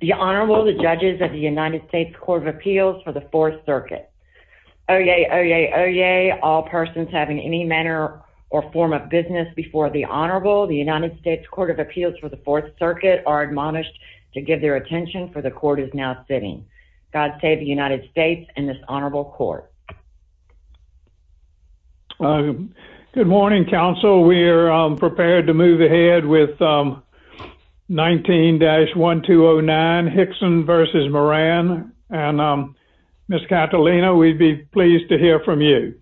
The Honorable, the Judges of the United States Court of Appeals for the Fourth Circuit. Oyez! Oyez! Oyez! All persons having any manner or form of business before the Honorable, the United States Court of Appeals for the Fourth Circuit, are admonished to give their attention, for the Court is now sitting. God save the United States and this Honorable Court. Good morning, Counsel. We are prepared to move ahead with 19-1209, Hixson v. Moran. And Ms. Cantelina, we'd be pleased to hear from you.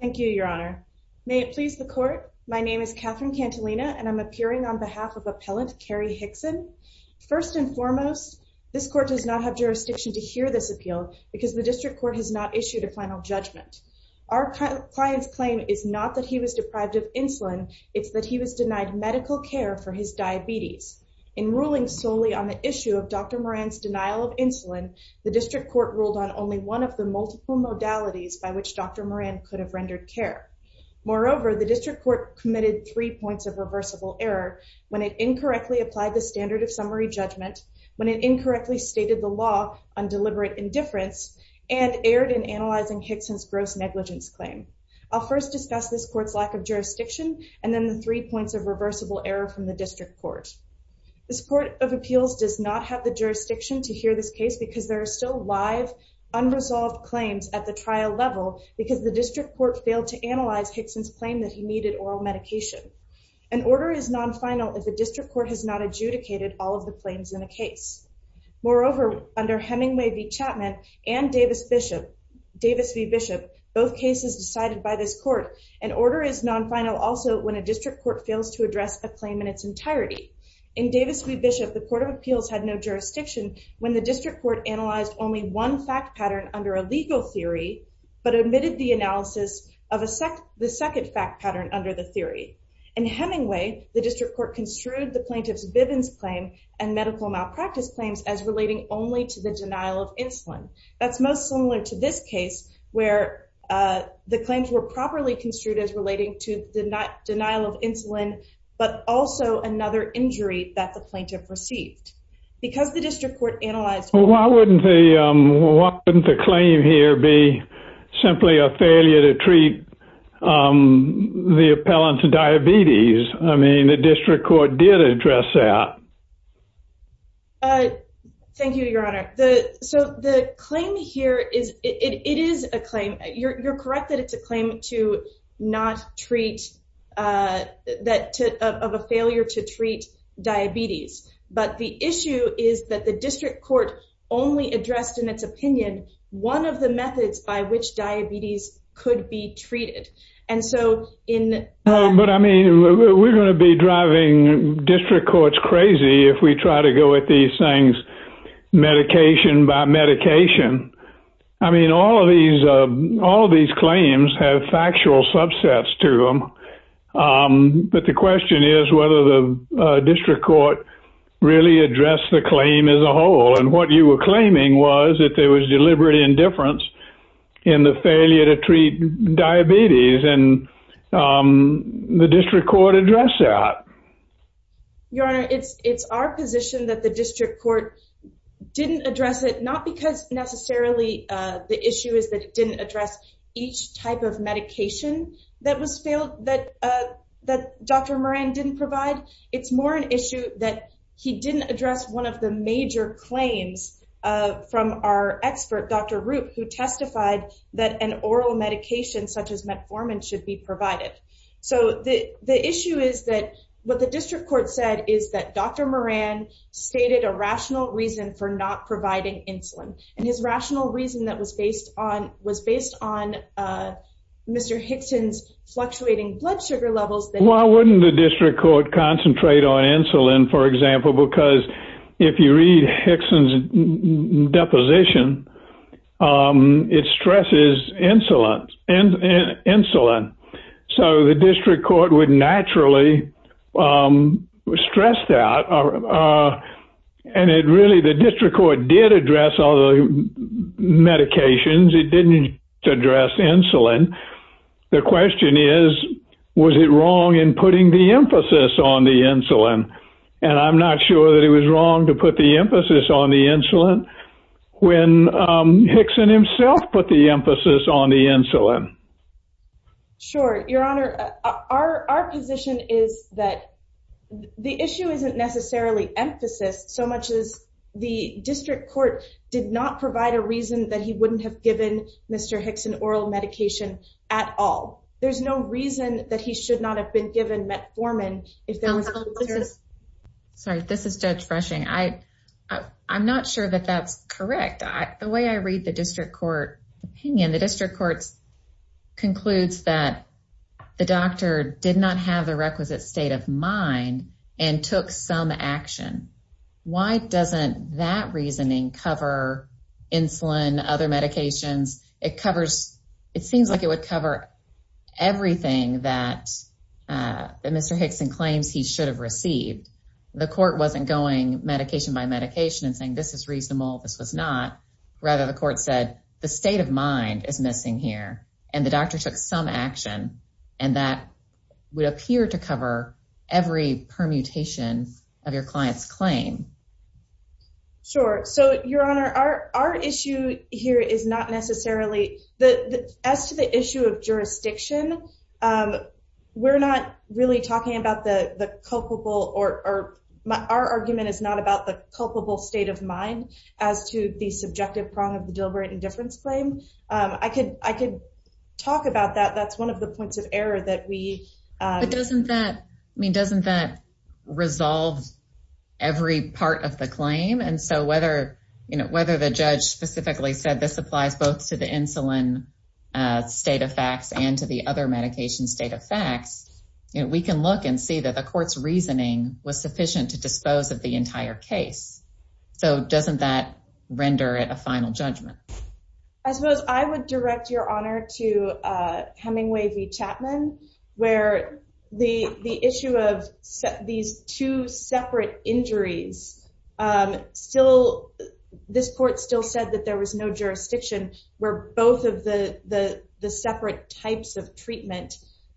Thank you, Your Honor. May it please the Court, my name is Catherine Cantelina and I'm appearing on behalf of Appellant Carey Hixson. First and foremost, this Court does not have jurisdiction to hear this appeal because the District Court has not issued a final judgment. Our client's claim is not that he was deprived of insulin, it's that he was denied medical care for his diabetes. In ruling solely on the issue of Dr. Moran's denial of insulin, the District Court ruled on only one of the multiple modalities by which Dr. Moran could have rendered care. Moreover, the District Court committed three points of reversible error when it incorrectly applied the standard of summary judgment, when it incorrectly stated the law on deliberate indifference, and erred in analyzing Hixson's gross negligence claim. I'll first discuss this Court's lack of jurisdiction, and then the three points of reversible error from the District Court. This Court of Appeals does not have the jurisdiction to hear this case because there are still live, unresolved claims at the trial level because the District Court failed to analyze Hixson's claim that he needed oral medication. An order is non-final if the District Court has not adjudicated all of the claims in the case. Moreover, under Hemingway v. Chapman and Davis v. Bishop, both cases decided by this Court, an order is non-final also when a District Court fails to address a claim in its entirety. In Davis v. Bishop, the Court of Appeals had no jurisdiction when the District Court analyzed only one fact pattern under a legal theory, but omitted the analysis of the second fact pattern under the theory. In Hemingway, the District Court construed the plaintiff's Bivens claim and medical malpractice claims as relating only to the denial of insulin. That's most similar to this case, where the claims were properly construed as relating to the denial of insulin, but also another injury that the plaintiff received. Why wouldn't the claim here be simply a failure to treat the appellant's diabetes? I mean, the District Court did address that. Thank you, Your Honor. So the claim here, it is a claim. You're correct that it's a claim of a failure to treat diabetes. But the issue is that the District Court only addressed in its opinion one of the methods by which diabetes could be treated. But I mean, we're going to be driving District Courts crazy if we try to go at these things medication by medication. I mean, all of these claims have factual subsets to them, but the question is whether the District Court really addressed the claim as a whole. And what you were claiming was that there was deliberate indifference in the failure to treat diabetes, and the District Court addressed that. Your Honor, it's our position that the District Court didn't address it, not because necessarily the issue is that it didn't address each type of medication that Dr. Moran didn't provide. It's more an issue that he didn't address one of the major claims from our expert, Dr. Roop, who testified that an oral medication such as metformin should be provided. So the issue is that what the District Court said is that Dr. Moran stated a rational reason for not providing insulin. And his rational reason was based on Mr. Hickson's fluctuating blood sugar levels. Why wouldn't the District Court concentrate on insulin, for example, because if you read Hickson's deposition, it stresses insulin. So the District Court would naturally stress that. And really, the District Court did address all the medications. It didn't address insulin. The question is, was it wrong in putting the emphasis on the insulin? And I'm not sure that it was wrong to put the emphasis on the insulin when Hickson himself put the emphasis on the insulin. Sure, Your Honor. Our position is that the issue isn't necessarily emphasis so much as the District Court did not provide a reason that he wouldn't have given Mr. Hickson oral medication at all. There's no reason that he should not have been given metformin. Sorry, this is Judge Freshing. I'm not sure that that's correct. The way I read the District Court opinion, the District Court concludes that the doctor did not have the requisite state of mind and took some action. Why doesn't that reasoning cover insulin, other medications? It seems like it would cover everything that Mr. Hickson claims he should have received. The court wasn't going medication by medication and saying, this is reasonable, this was not. Rather, the court said, the state of mind is missing here. And the doctor took some action. And that would appear to cover every permutation of your client's claim. Sure. So, Your Honor, our issue here is not necessarily – as to the issue of jurisdiction, we're not really talking about the culpable – our argument is not about the culpable state of mind as to the subjective prong of the deliberate indifference claim. I could talk about that. That's one of the points of error that we – But doesn't that – I mean, doesn't that resolve every part of the claim? And so whether the judge specifically said this applies both to the insulin state of facts and to the other medication state of facts, we can look and see that the court's reasoning was sufficient to dispose of the entire case. So doesn't that render it a final judgment? I suppose I would direct Your Honor to Hemingway v. Chapman, where the issue of these two separate injuries still – this court still said that there was no jurisdiction where both of the separate types of treatment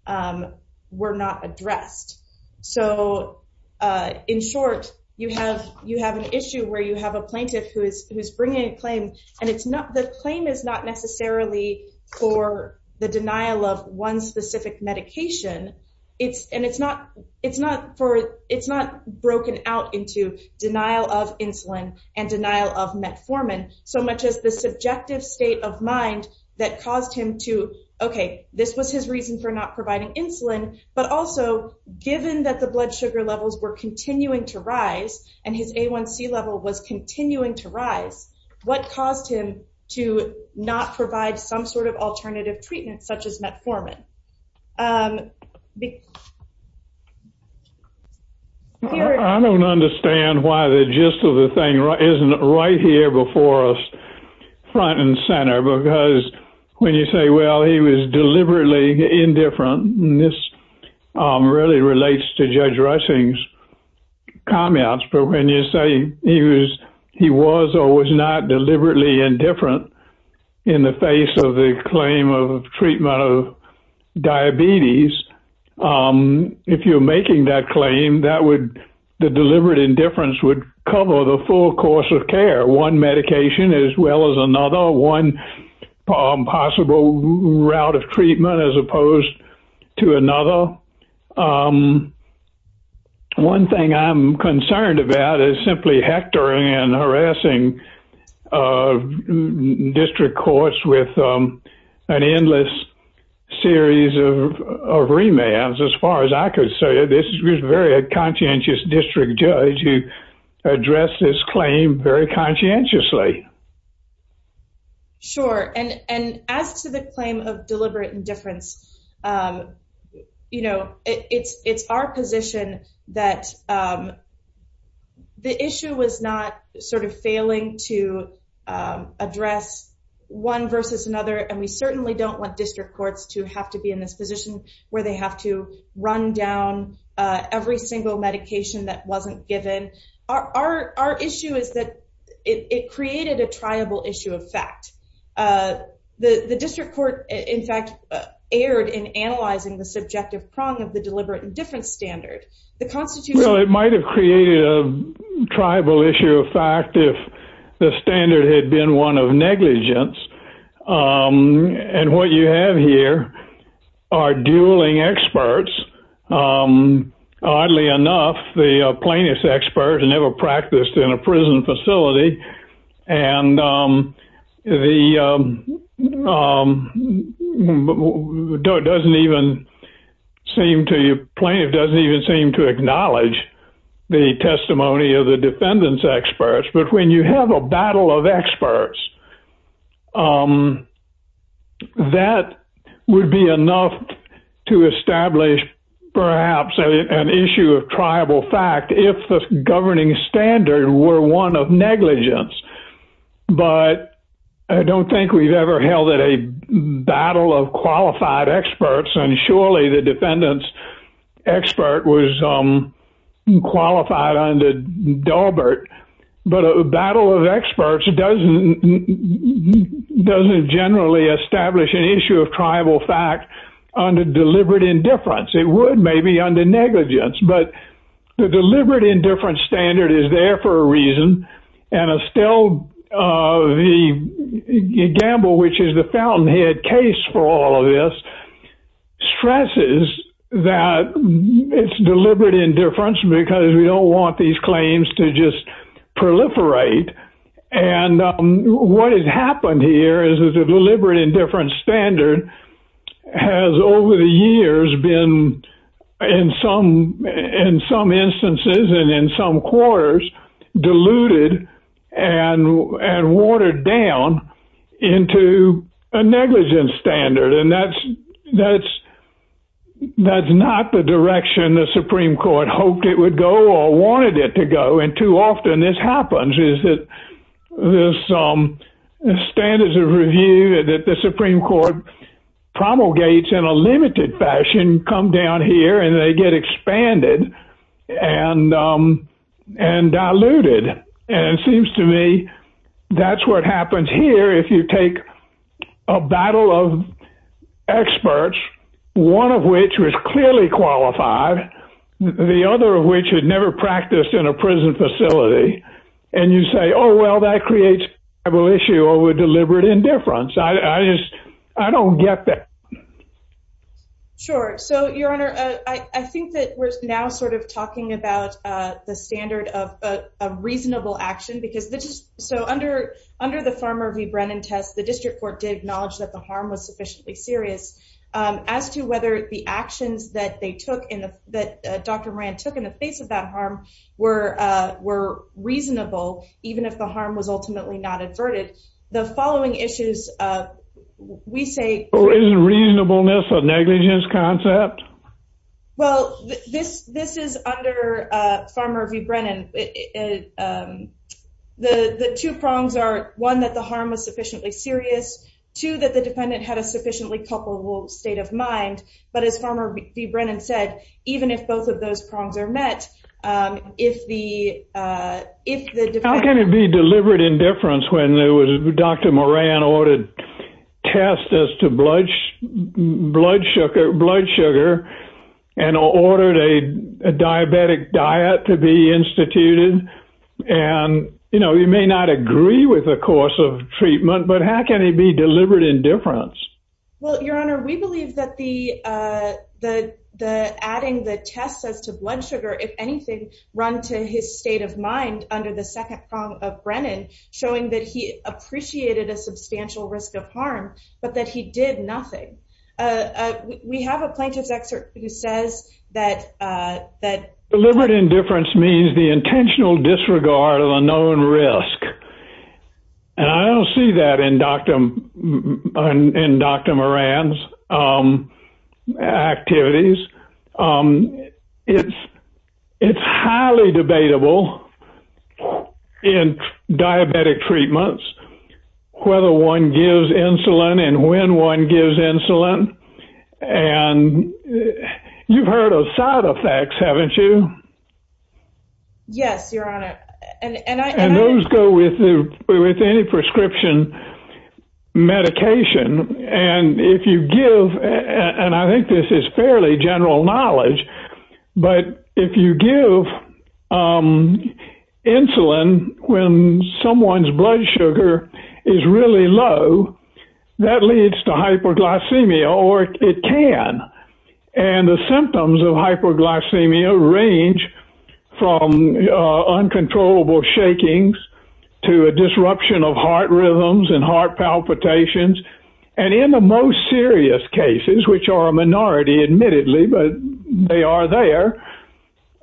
were not addressed. So, in short, you have an issue where you have a plaintiff who is bringing a claim, and it's not – the claim is not necessarily for the denial of one specific medication. And it's not for – it's not broken out into denial of insulin and denial of metformin so much as the subjective state of mind that caused him to – okay, this was his reason for not providing insulin, but also, given that the blood sugar levels were continuing to rise and his A1C level was continuing to rise, what caused him to not provide some sort of alternative treatment such as metformin? I don't understand why the gist of the thing isn't right here before us, front and center, because when you say, well, he was deliberately indifferent, and this really relates to Judge Rushing's comments. But when you say he was or was not deliberately indifferent in the face of the claim of treatment of diabetes, if you're making that claim, that would – the deliberate indifference would cover the full course of care, one medication as well as another, one possible route of treatment as opposed to another. Well, one thing I'm concerned about is simply hectoring and harassing district courts with an endless series of remands, as far as I could say. This is a very conscientious district judge who addressed this claim very conscientiously. Sure. And as to the claim of deliberate indifference, it's our position that the issue was not sort of failing to address one versus another, and we certainly don't want district courts to have to be in this position where they have to run down every single medication that wasn't given. Our issue is that it created a triable issue of fact. The district court, in fact, erred in analyzing the subjective prong of the deliberate indifference standard. Well, it might have created a triable issue of fact if the standard had been one of negligence, and what you have here are dueling experts. Oddly enough, the plaintiff's expert never practiced in a prison facility, and the plaintiff doesn't even seem to acknowledge the testimony of the defendant's experts. But when you have a battle of experts, that would be enough to establish perhaps an issue of triable fact if the governing standard were one of negligence. But I don't think we've ever held a battle of qualified experts, and surely the defendant's expert was qualified under Daubert, but a battle of experts doesn't generally establish an issue of triable fact under deliberate indifference. It would maybe under negligence, but the deliberate indifference standard is there for a reason, and Estelle Gamble, which is the fountainhead case for all of this, stresses that it's deliberate indifference because we don't want these claims to just proliferate. And what has happened here is that the deliberate indifference standard has over the years been, in some instances and in some quarters, diluted and watered down into a negligence standard, and that's not the direction the Supreme Court hoped it would go or wanted it to go. And too often this happens, is that the standards of review that the Supreme Court promulgates in a limited fashion come down here and they get expanded and diluted. And it seems to me that's what happens here if you take a battle of experts, one of which was clearly qualified, the other of which had never practiced in a prison facility, and you say, oh, well, that creates a triable issue over deliberate indifference. I just, I don't get that. Sure. So, Your Honor, I think that we're now sort of talking about the standard of a reasonable action, because this is, so under the Farmer v. Brennan test, the district court did acknowledge that the harm was sufficiently serious. As to whether the actions that they took, that Dr. Moran took in the face of that harm, were reasonable, even if the harm was ultimately not adverted, the following issues, we say Isn't reasonableness a negligence concept? Well, this is under Farmer v. Brennan. The two prongs are, one, that the harm was sufficiently serious, two, that the defendant had a sufficiently culpable state of mind, but as Farmer v. Brennan said, even if both of those prongs are met, if the How can it be deliberate indifference when Dr. Moran ordered tests as to blood sugar and ordered a diabetic diet to be instituted? And, you know, you may not agree with the course of treatment, but how can it be deliberate indifference? Well, Your Honor, we believe that adding the tests as to blood sugar, if anything, run to his state of mind under the second prong of Brennan, showing that he appreciated a substantial risk of harm, but that he did nothing. We have a plaintiff's excerpt who says that Deliberate indifference means the intentional disregard of a known risk. And I don't see that in Dr. Moran's activities. It's highly debatable in diabetic treatments, whether one gives insulin and when one gives insulin. And you've heard of side effects, haven't you? Yes, Your Honor. And those go with any prescription medication. And if you give, and I think this is fairly general knowledge, but if you give insulin when someone's blood sugar is really low, that leads to hyperglycemia or it can. And the symptoms of hyperglycemia range from uncontrollable shakings to a disruption of heart rhythms and heart palpitations. And in the most serious cases, which are a minority admittedly, but they are there,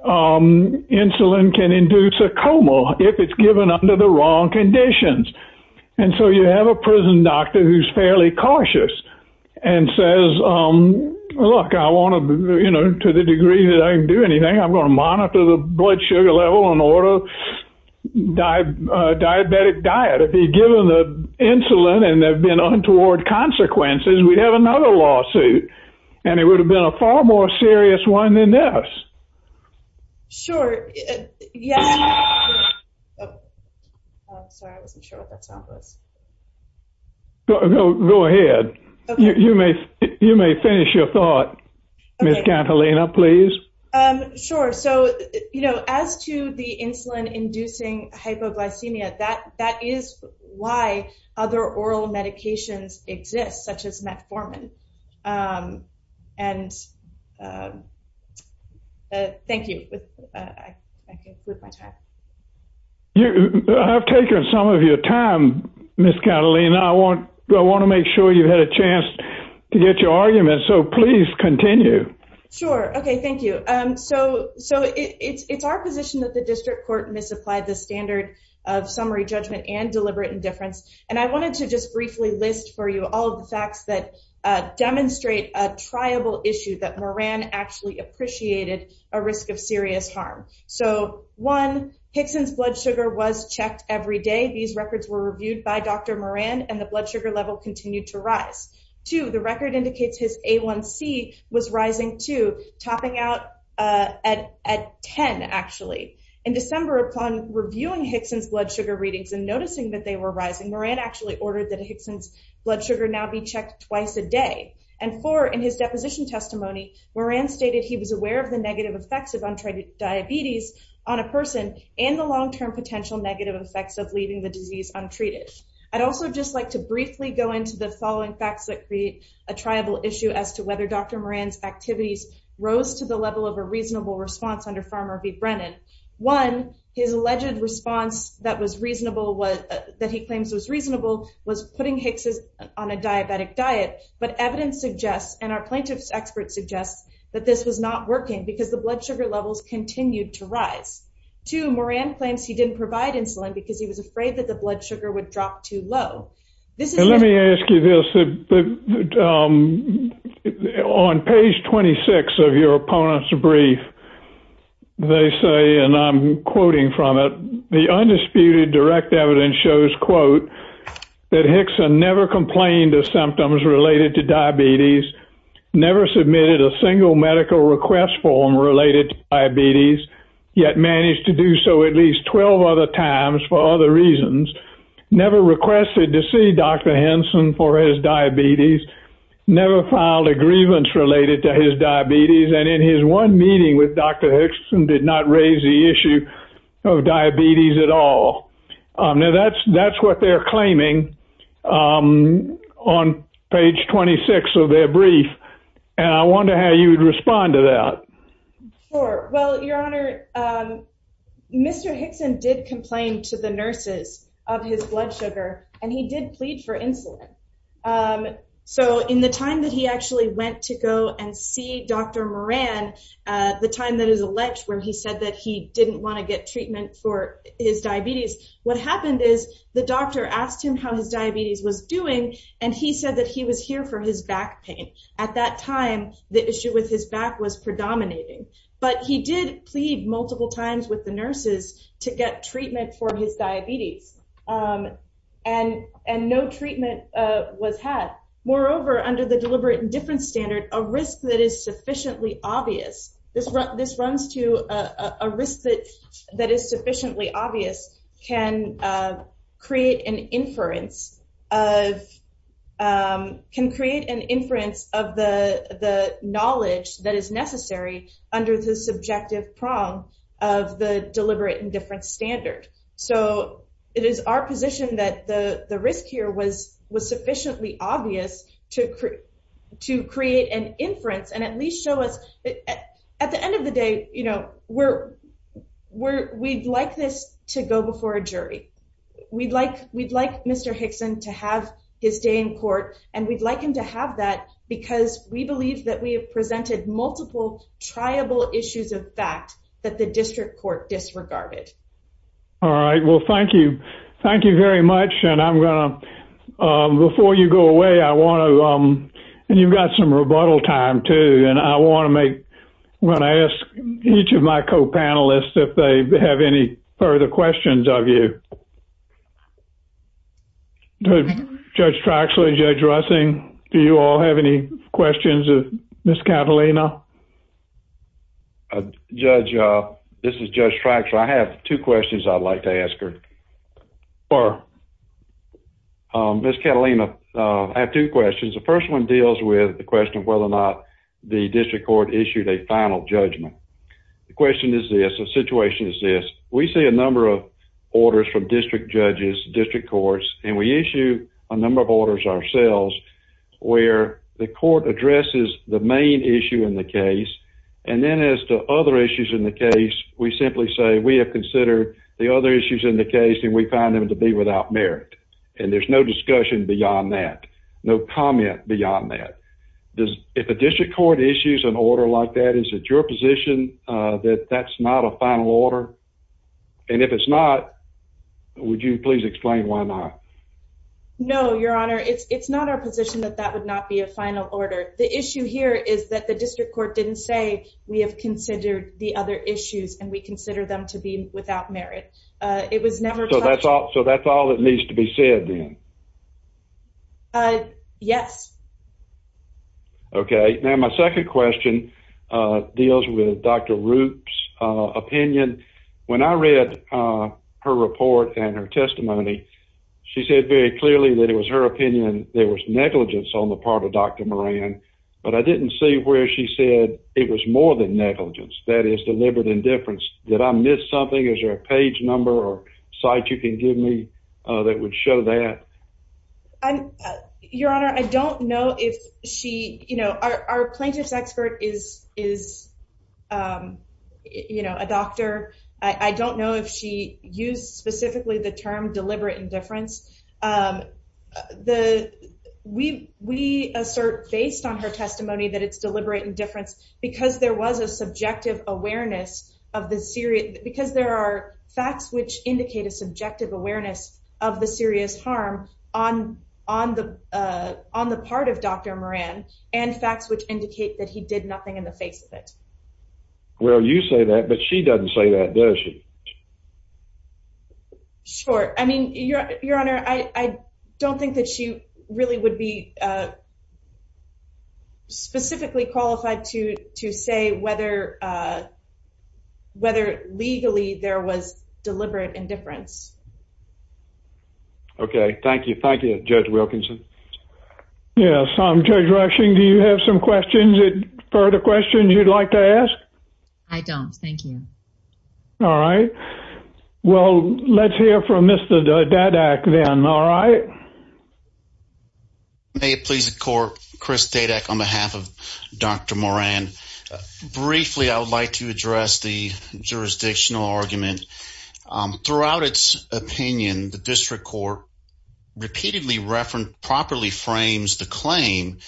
insulin can induce a coma if it's given under the wrong conditions. And so you have a prison doctor who's fairly cautious and says, look, I want to, you know, to the degree that I can do anything, I'm going to monitor the blood sugar level and order a diabetic diet. If he'd given the insulin and there'd been untoward consequences, we'd have another lawsuit. And it would have been a far more serious one than this. Sure. Sorry, I wasn't sure what that sound was. Go ahead. You may finish your thought, Ms. Catalina, please. Sure. So, you know, as to the insulin inducing hypoglycemia, that is why other oral medications exist, such as metformin. And thank you. I've taken some of your time, Ms. Catalina. I want to make sure you had a chance to get your argument. So please continue. Sure. Okay. Thank you. So it's our position that the district court misapplied the standard of summary judgment and deliberate indifference. And I wanted to just briefly list for you all the facts that demonstrate a triable issue that Moran actually appreciated a risk of serious harm. So, one, Hickson's blood sugar was checked every day. These records were reviewed by Dr. Moran and the blood sugar level continued to rise. Two, the record indicates his A1C was rising, too, topping out at 10, actually. In December, upon reviewing Hickson's blood sugar readings and noticing that they were rising, Moran actually ordered that Hickson's blood sugar now be checked twice a day. And four, in his deposition testimony, Moran stated he was aware of the negative effects of untreated diabetes on a person and the long-term potential negative effects of leaving the disease untreated. I'd also just like to briefly go into the following facts that create a triable issue as to whether Dr. Moran's activities rose to the level of a reasonable response under Farmer v. Brennan. One, his alleged response that he claims was reasonable was putting Hickson on a diabetic diet, but evidence suggests, and our plaintiff's expert suggests, that this was not working because the blood sugar levels continued to rise. Two, Moran claims he didn't provide insulin because he was afraid that the blood sugar would drop too low. And let me ask you this. On page 26 of your opponent's brief, they say, and I'm quoting from it, the undisputed direct evidence shows, quote, that Hickson never complained of symptoms related to diabetes, never submitted a single medical request form related to diabetes, yet managed to do so at least 12 other times for other reasons, never requested to see Dr. Henson for his diabetes, never filed a grievance related to his diabetes, and in his one meeting with Dr. Hickson did not raise the issue of diabetes at all. Now that's what they're claiming on page 26 of their brief, and I wonder how you would respond to that. Sure. Well, Your Honor, Mr. Hickson did complain to the nurses of his blood sugar, and he did plead for insulin. So in the time that he actually went to go and see Dr. Moran, the time that is alleged where he said that he didn't want to get treatment for his diabetes, what happened is the doctor asked him how his diabetes was doing, and he said that he was here for his back pain. At that time, the issue with his back was predominating, but he did plead multiple times with the nurses to get treatment for his diabetes, and no treatment was had. Moreover, under the deliberate indifference standard, a risk that is sufficiently obvious, this runs to a risk that is sufficiently obvious, can create an inference of the knowledge that is necessary under the subjective prong of the deliberate indifference standard. So it is our position that the risk here was sufficiently obvious to create an inference and at least show us, at the end of the day, we'd like this to go before a jury. We'd like Mr. Hickson to have his day in court, and we'd like him to have that because we believe that we have presented multiple triable issues of fact that the district court disregarded. All right, well, thank you. Thank you very much, and I'm going to, before you go away, I want to, and you've got some rebuttal time, too, and I want to make, I'm going to ask each of my co-panelists if they have any further questions of you. Judge Traxler, Judge Russing, do you all have any questions of Ms. Catalina? Judge, this is Judge Traxler. I have two questions I'd like to ask her. Ms. Catalina, I have two questions. The first one deals with the question of whether or not the district court issued a final judgment. The question is this, the situation is this. We see a number of orders from district judges, district courts, and we issue a number of orders ourselves where the court addresses the main issue in the case, and then as to other issues in the case, we simply say we have considered the other issues in the case and we find them to be without merit, and there's no discussion beyond that, no comment beyond that. If a district court issues an order like that, is it your position that that's not a final order? And if it's not, would you please explain why not? No, Your Honor, it's not our position that that would not be a final order. The issue here is that the district court didn't say we have considered the other issues and we consider them to be without merit. It was never touched. So that's all that needs to be said, then? Yes. Okay. Now my second question deals with Dr. Roop's opinion. When I read her report and her testimony, she said very clearly that it was her opinion there was negligence on the part of Dr. Moran, but I didn't see where she said it was more than negligence, that is deliberate indifference. Did I miss something? Is there a page number or site you can give me that would show that? Your Honor, I don't know if she, you know, our plaintiff's expert is, you know, a doctor. I don't know if she used specifically the term deliberate indifference. We assert based on her testimony that it's deliberate indifference because there was a subjective awareness of the serious, because there are facts which indicate a subjective awareness of the serious harm on the part of Dr. Moran and facts which indicate that he did nothing in the face of it. Well, you say that, but she doesn't say that, does she? Sure. I mean, Your Honor, I don't think that she really would be specifically qualified to say whether legally there was deliberate indifference. Okay. Thank you. Thank you, Judge Wilkinson. Yes. Judge Rushing, do you have some questions, further questions you'd like to ask? I don't. Thank you. All right. Well, let's hear from Mr. Dadak then, all right? May it please the Court, Chris Dadak on behalf of Dr. Moran. Briefly, I would like to address the jurisdictional argument. Throughout its opinion, the district court repeatedly properly frames the claim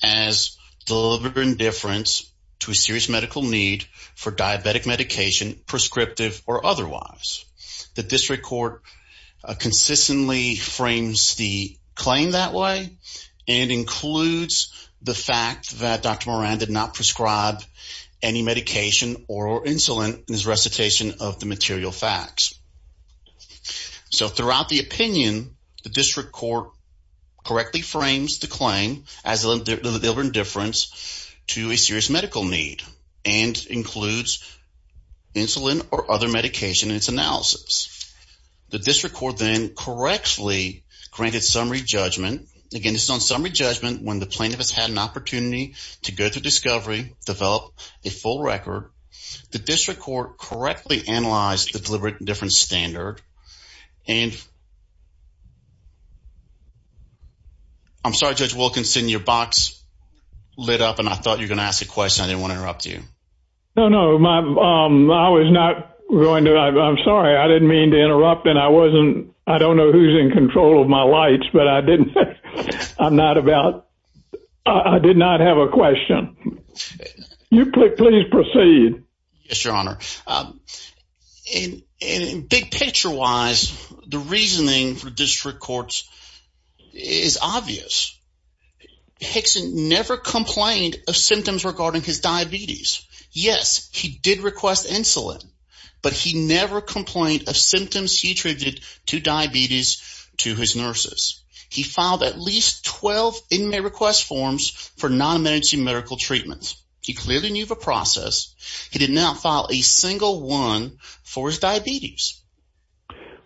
as deliberate indifference to a serious medical need for diabetic medication, prescriptive or otherwise. The district court consistently frames the claim that way and includes the fact that Dr. Moran did not prescribe any medication or insulin in his recitation of the material facts. So throughout the opinion, the district court correctly frames the claim as deliberate indifference to a serious medical need and includes insulin or other medication in its analysis. The district court then correctly granted summary judgment. Again, this is on summary judgment when the plaintiff has had an opportunity to go through discovery, develop a full record. The district court correctly analyzed the deliberate indifference standard. And I'm sorry, Judge Wilkinson, your box lit up, and I thought you were going to ask a question. I didn't want to interrupt you. No, no. I was not going to. I'm sorry. I didn't mean to interrupt, and I wasn't – I don't know who's in control of my lights, but I didn't – I'm not about – I did not have a question. You please proceed. Yes, Your Honor. And big picture-wise, the reasoning for district courts is obvious. Hickson never complained of symptoms regarding his diabetes. Yes, he did request insulin, but he never complained of symptoms he attributed to diabetes to his nurses. He filed at least 12 inmate request forms for non-emergency medical treatments. He clearly knew of a process. He did not file a single one for his diabetes.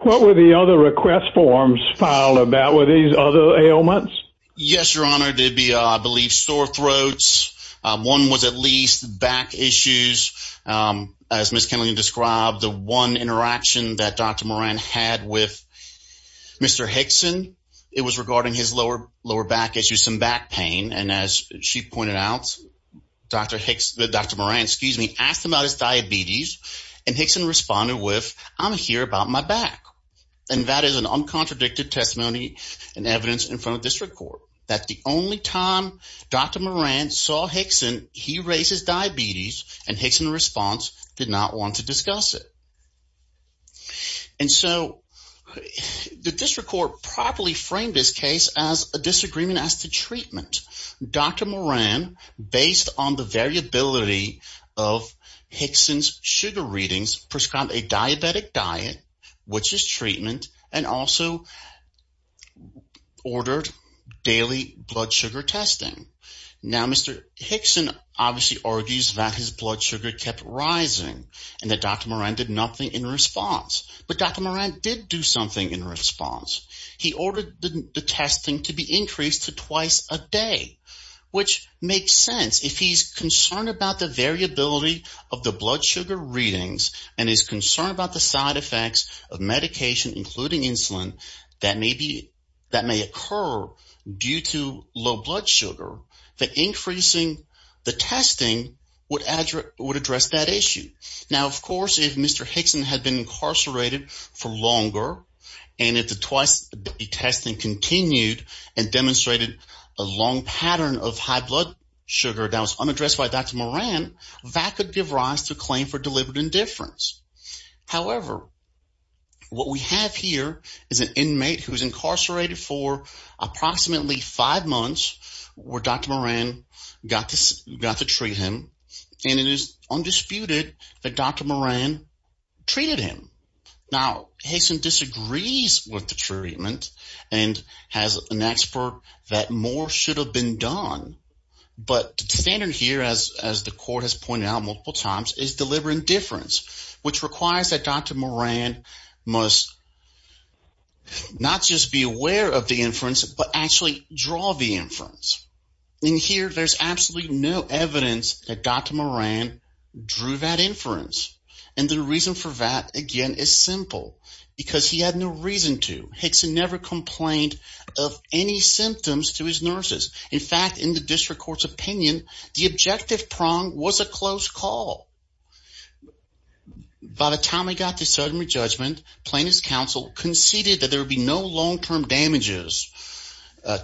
What were the other request forms filed about? Were these other ailments? Yes, Your Honor. They'd be, I believe, sore throats. One was at least back issues. As Ms. Kennelly described, the one interaction that Dr. Moran had with Mr. Hickson, it was regarding his lower back issues, some back pain. And as she pointed out, Dr. Moran asked him about his diabetes, and Hickson responded with, I'm here about my back. And that is an uncontradicted testimony and evidence in front of district court. That the only time Dr. Moran saw Hickson, he raised his diabetes, and Hickson, in response, did not want to discuss it. And so the district court properly framed this case as a disagreement as to treatment. Dr. Moran, based on the variability of Hickson's sugar readings, prescribed a diabetic diet, which is treatment, and also ordered daily blood sugar testing. Now, Mr. Hickson obviously argues that his blood sugar kept rising, and that Dr. Moran did nothing in response. But Dr. Moran did do something in response. He ordered the testing to be increased to twice a day, which makes sense. If he's concerned about the variability of the blood sugar readings, and is concerned about the side effects of medication, including insulin, that may occur due to low blood sugar, that increasing the testing would address that issue. Now, of course, if Mr. Hickson had been incarcerated for longer, and if the twice-a-day testing continued and demonstrated a long pattern of high blood sugar that was unaddressed by Dr. Moran, that could give rise to a claim for deliberate indifference. However, what we have here is an inmate who's incarcerated for approximately five months, where Dr. Moran got to treat him, and it is undisputed that Dr. Moran treated him. Now, Hickson disagrees with the treatment and has an expert that more should have been done. But the standard here, as the court has pointed out multiple times, is deliberate indifference, which requires that Dr. Moran must not just be aware of the inference, but actually draw the inference. And here, there's absolutely no evidence that Dr. Moran drew that inference. And the reason for that, again, is simple, because he had no reason to. Hickson never complained of any symptoms to his nurses. In fact, in the district court's opinion, the objective prong was a close call. By the time he got to sodomy judgment, plaintiff's counsel conceded that there would be no long-term damages.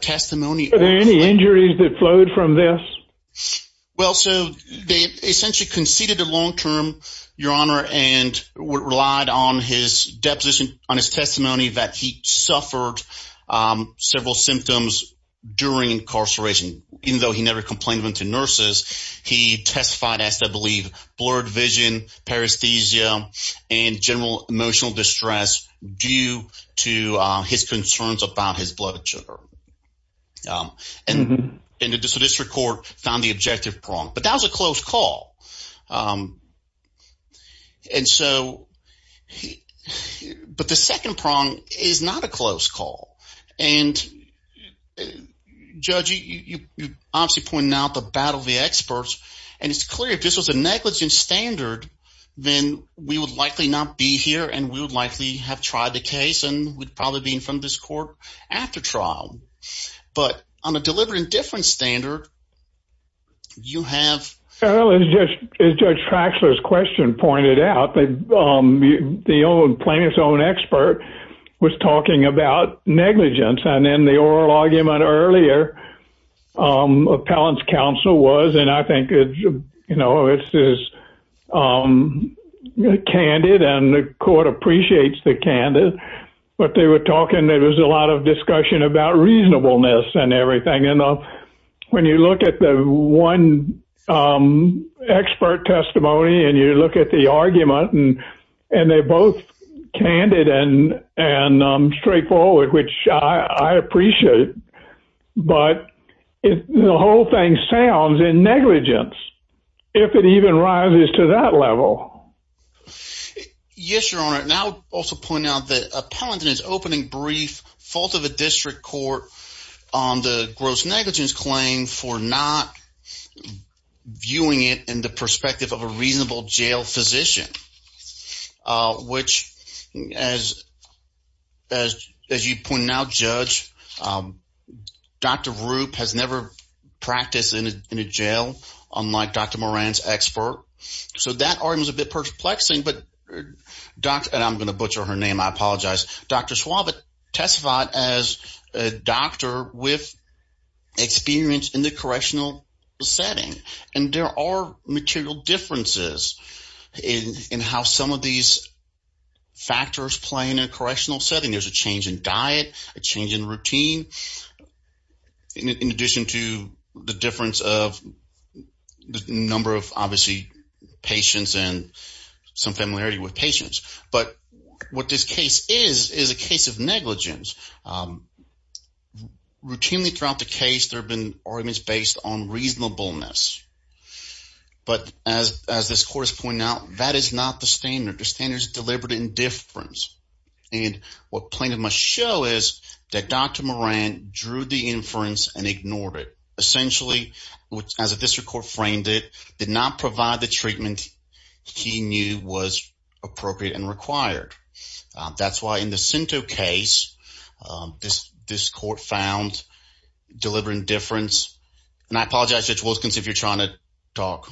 Testimony— Were there any injuries that flowed from this? Well, so they essentially conceded a long-term, Your Honor, and relied on his deposition, on his testimony that he suffered several symptoms during incarceration. Even though he never complained to nurses, he testified as, I believe, blurred vision, paresthesia, and general emotional distress due to his concerns about his blood sugar. And the district court found the objective prong. But that was a close call. But the second prong is not a close call. And, Judge, you obviously pointed out the battle of the experts. And it's clear if this was a negligence standard, then we would likely not be here and we would likely have tried the case and would probably be in front of this court after trial. But on a deliberate indifference standard, you have— Well, as Judge Traxler's question pointed out, the plaintiff's own expert was talking about negligence. And in the oral argument earlier, appellant's counsel was, and I think, you know, it's just candid and the court appreciates the candid. But they were talking—there was a lot of discussion about reasonableness and everything. And when you look at the one expert testimony and you look at the argument, and they're both candid and straightforward, which I appreciate. But the whole thing sounds in negligence if it even rises to that level. Yes, Your Honor. And I would also point out that appellant is opening brief fault of the district court on the gross negligence claim for not viewing it in the perspective of a reasonable jail physician, which, as you pointed out, Judge, Dr. Rupp has never practiced in a jail, unlike Dr. Moran's expert. So that argument is a bit perplexing, but—and I'm going to butcher her name. I apologize. Dr. Schwab has testified as a doctor with experience in the correctional setting, and there are material differences in how some of these factors play in a correctional setting. There's a change in diet, a change in routine, in addition to the difference of the number of, obviously, patients and some familiarity with patients. But what this case is is a case of negligence. Routinely throughout the case, there have been arguments based on reasonableness. But as this court has pointed out, that is not the standard. The standard is deliberate indifference. And what plaintiff must show is that Dr. Moran drew the inference and ignored it. Essentially, as the district court framed it, did not provide the treatment he knew was appropriate and required. That's why in the Cento case, this court found deliberate indifference. And I apologize, Judge Wilkins, if you're trying to talk.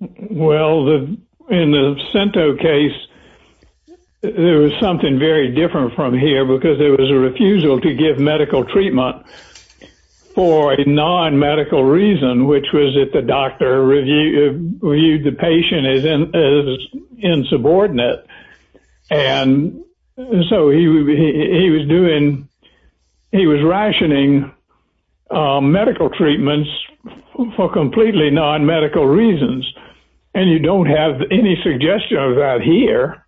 Well, in the Cento case, there was something very different from here, because there was a refusal to give medical treatment for a non-medical reason, which was that the doctor reviewed the patient as insubordinate. And so he was rationing medical treatments for completely non-medical reasons. And you don't have any suggestion of that here.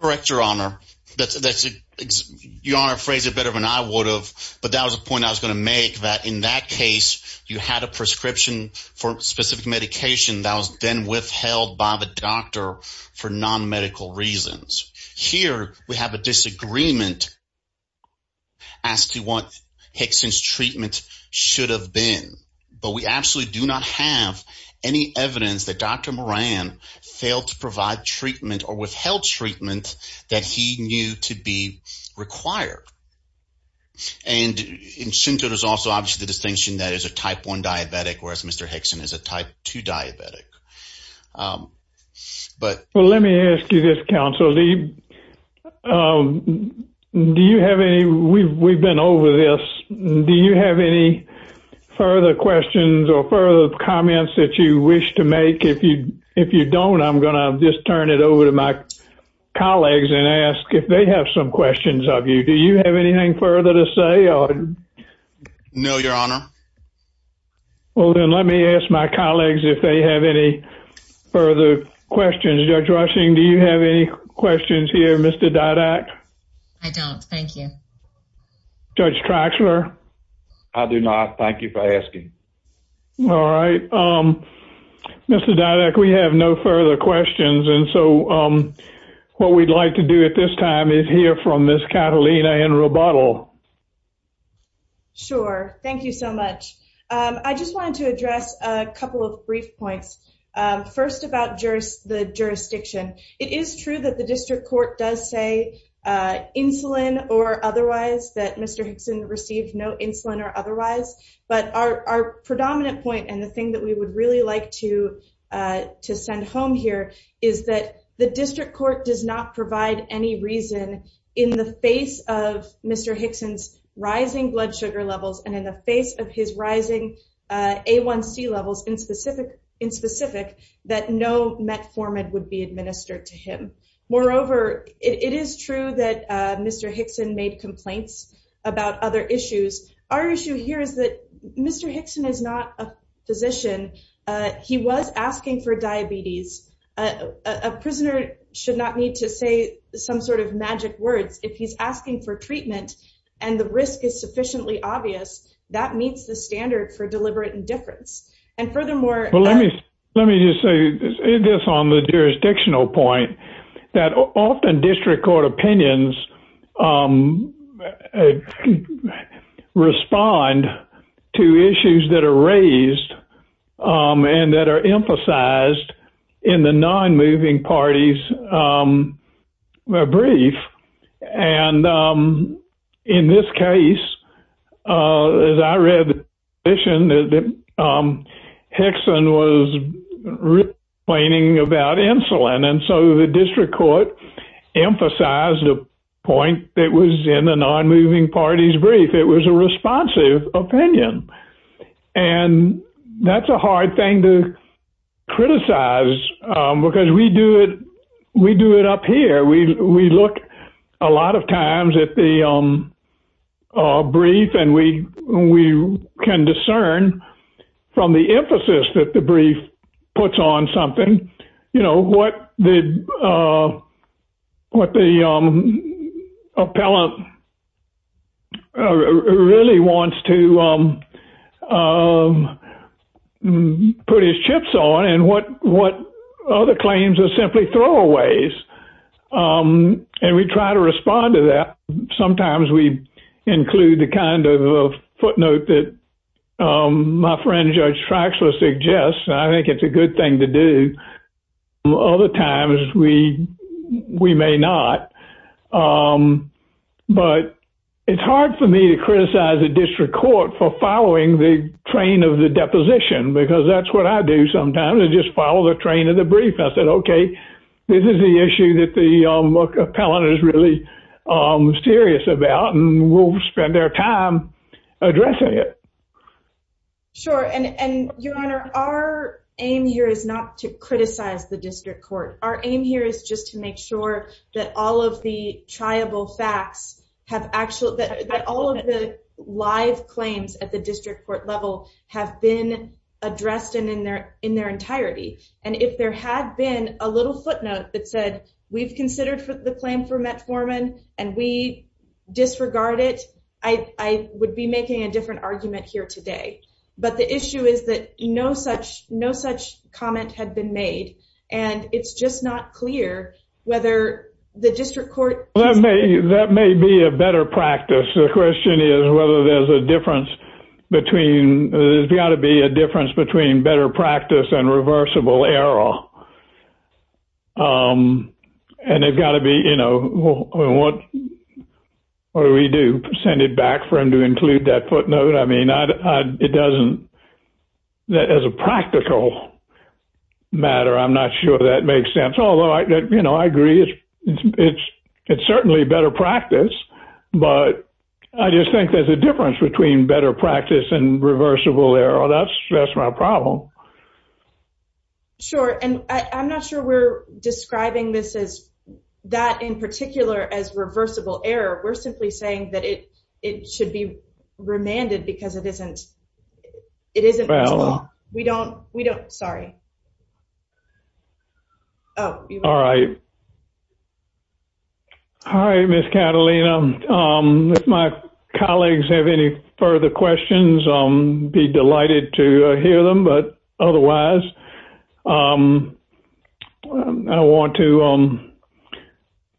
Correct, Your Honor. Your Honor phrased it better than I would have, but that was a point I was going to make, that in that case, you had a prescription for a specific medication that was then withheld by the doctor for non-medical reasons. Here, we have a disagreement as to what Hickson's treatment should have been. But we absolutely do not have any evidence that Dr. Moran failed to provide treatment or withheld treatment that he knew to be required. And in Cento, there's also obviously the distinction that it's a type 1 diabetic, whereas Mr. Hickson is a type 2 diabetic. Well, let me ask you this, Counsel. We've been over this. Do you have any further questions or further comments that you wish to make? If you don't, I'm going to just turn it over to my colleagues and ask if they have some questions of you. Do you have anything further to say? No, Your Honor. Well, then let me ask my colleagues if they have any further questions. Judge Rushing, do you have any questions here, Mr. Didak? I don't. Thank you. Judge Traxler? I do not. Thank you for asking. All right. Mr. Didak, we have no further questions. And so what we'd like to do at this time is hear from Ms. Catalina in rebuttal. Sure. Thank you so much. I just wanted to address a couple of brief points. First, about the jurisdiction. It is true that the district court does say insulin or otherwise, that Mr. Hickson received no insulin or otherwise. But our predominant point and the thing that we would really like to send home here is that the district court does not provide any reason, in the face of Mr. Hickson's rising blood sugar levels and in the face of his rising A1C levels in specific, that no metformin would be administered to him. Moreover, it is true that Mr. Hickson made complaints about other issues. Our issue here is that Mr. Hickson is not a physician. He was asking for diabetes. A prisoner should not need to say some sort of magic words. If he's asking for treatment and the risk is sufficiently obvious, that meets the standard for deliberate indifference. Let me just say this on the jurisdictional point. Often district court opinions respond to issues that are raised and that are emphasized in the non-moving party's brief. In this case, as I read, Hickson was complaining about insulin. So the district court emphasized the point that was in the non-moving party's brief. It was a responsive opinion. That's a hard thing to criticize because we do it up here. We look a lot of times at the brief and we can discern from the emphasis that the brief puts on something, what the appellant really wants to put his chips on and what other claims are simply throwaways. We try to respond to that. Sometimes we include the kind of footnote that my friend, Judge Traxler, suggests. I think it's a good thing to do. Other times, we may not. But it's hard for me to criticize a district court for following the train of the deposition because that's what I do sometimes. I just follow the train of the brief. I said, okay, this is the issue that the appellant is really serious about and we'll spend our time addressing it. Sure. Your Honor, our aim here is not to criticize the district court. Our aim here is just to make sure that all of the life claims at the district court level have been addressed in their entirety. And if there had been a little footnote that said, we've considered the claim for metformin and we disregard it, I would be making a different argument here today. But the issue is that no such comment had been made. And it's just not clear whether the district court – That may be a better practice. The question is whether there's a difference between – there's got to be a difference between better practice and reversible error. And it's got to be – what do we do? Send it back for him to include that footnote? I mean, it doesn't – as a practical matter, I'm not sure that makes sense. I agree. It's certainly better practice. But I just think there's a difference between better practice and reversible error. That's my problem. Sure. And I'm not sure we're describing this as – that in particular as reversible error. We're simply saying that it should be remanded because it isn't – we don't – sorry. All right. All right, Ms. Catalina. If my colleagues have any further questions, I'll be delighted to hear them. But otherwise, I want to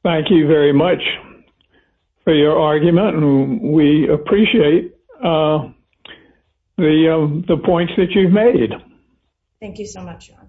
thank you very much for your argument. And we appreciate the points that you've made. Thank you so much, John.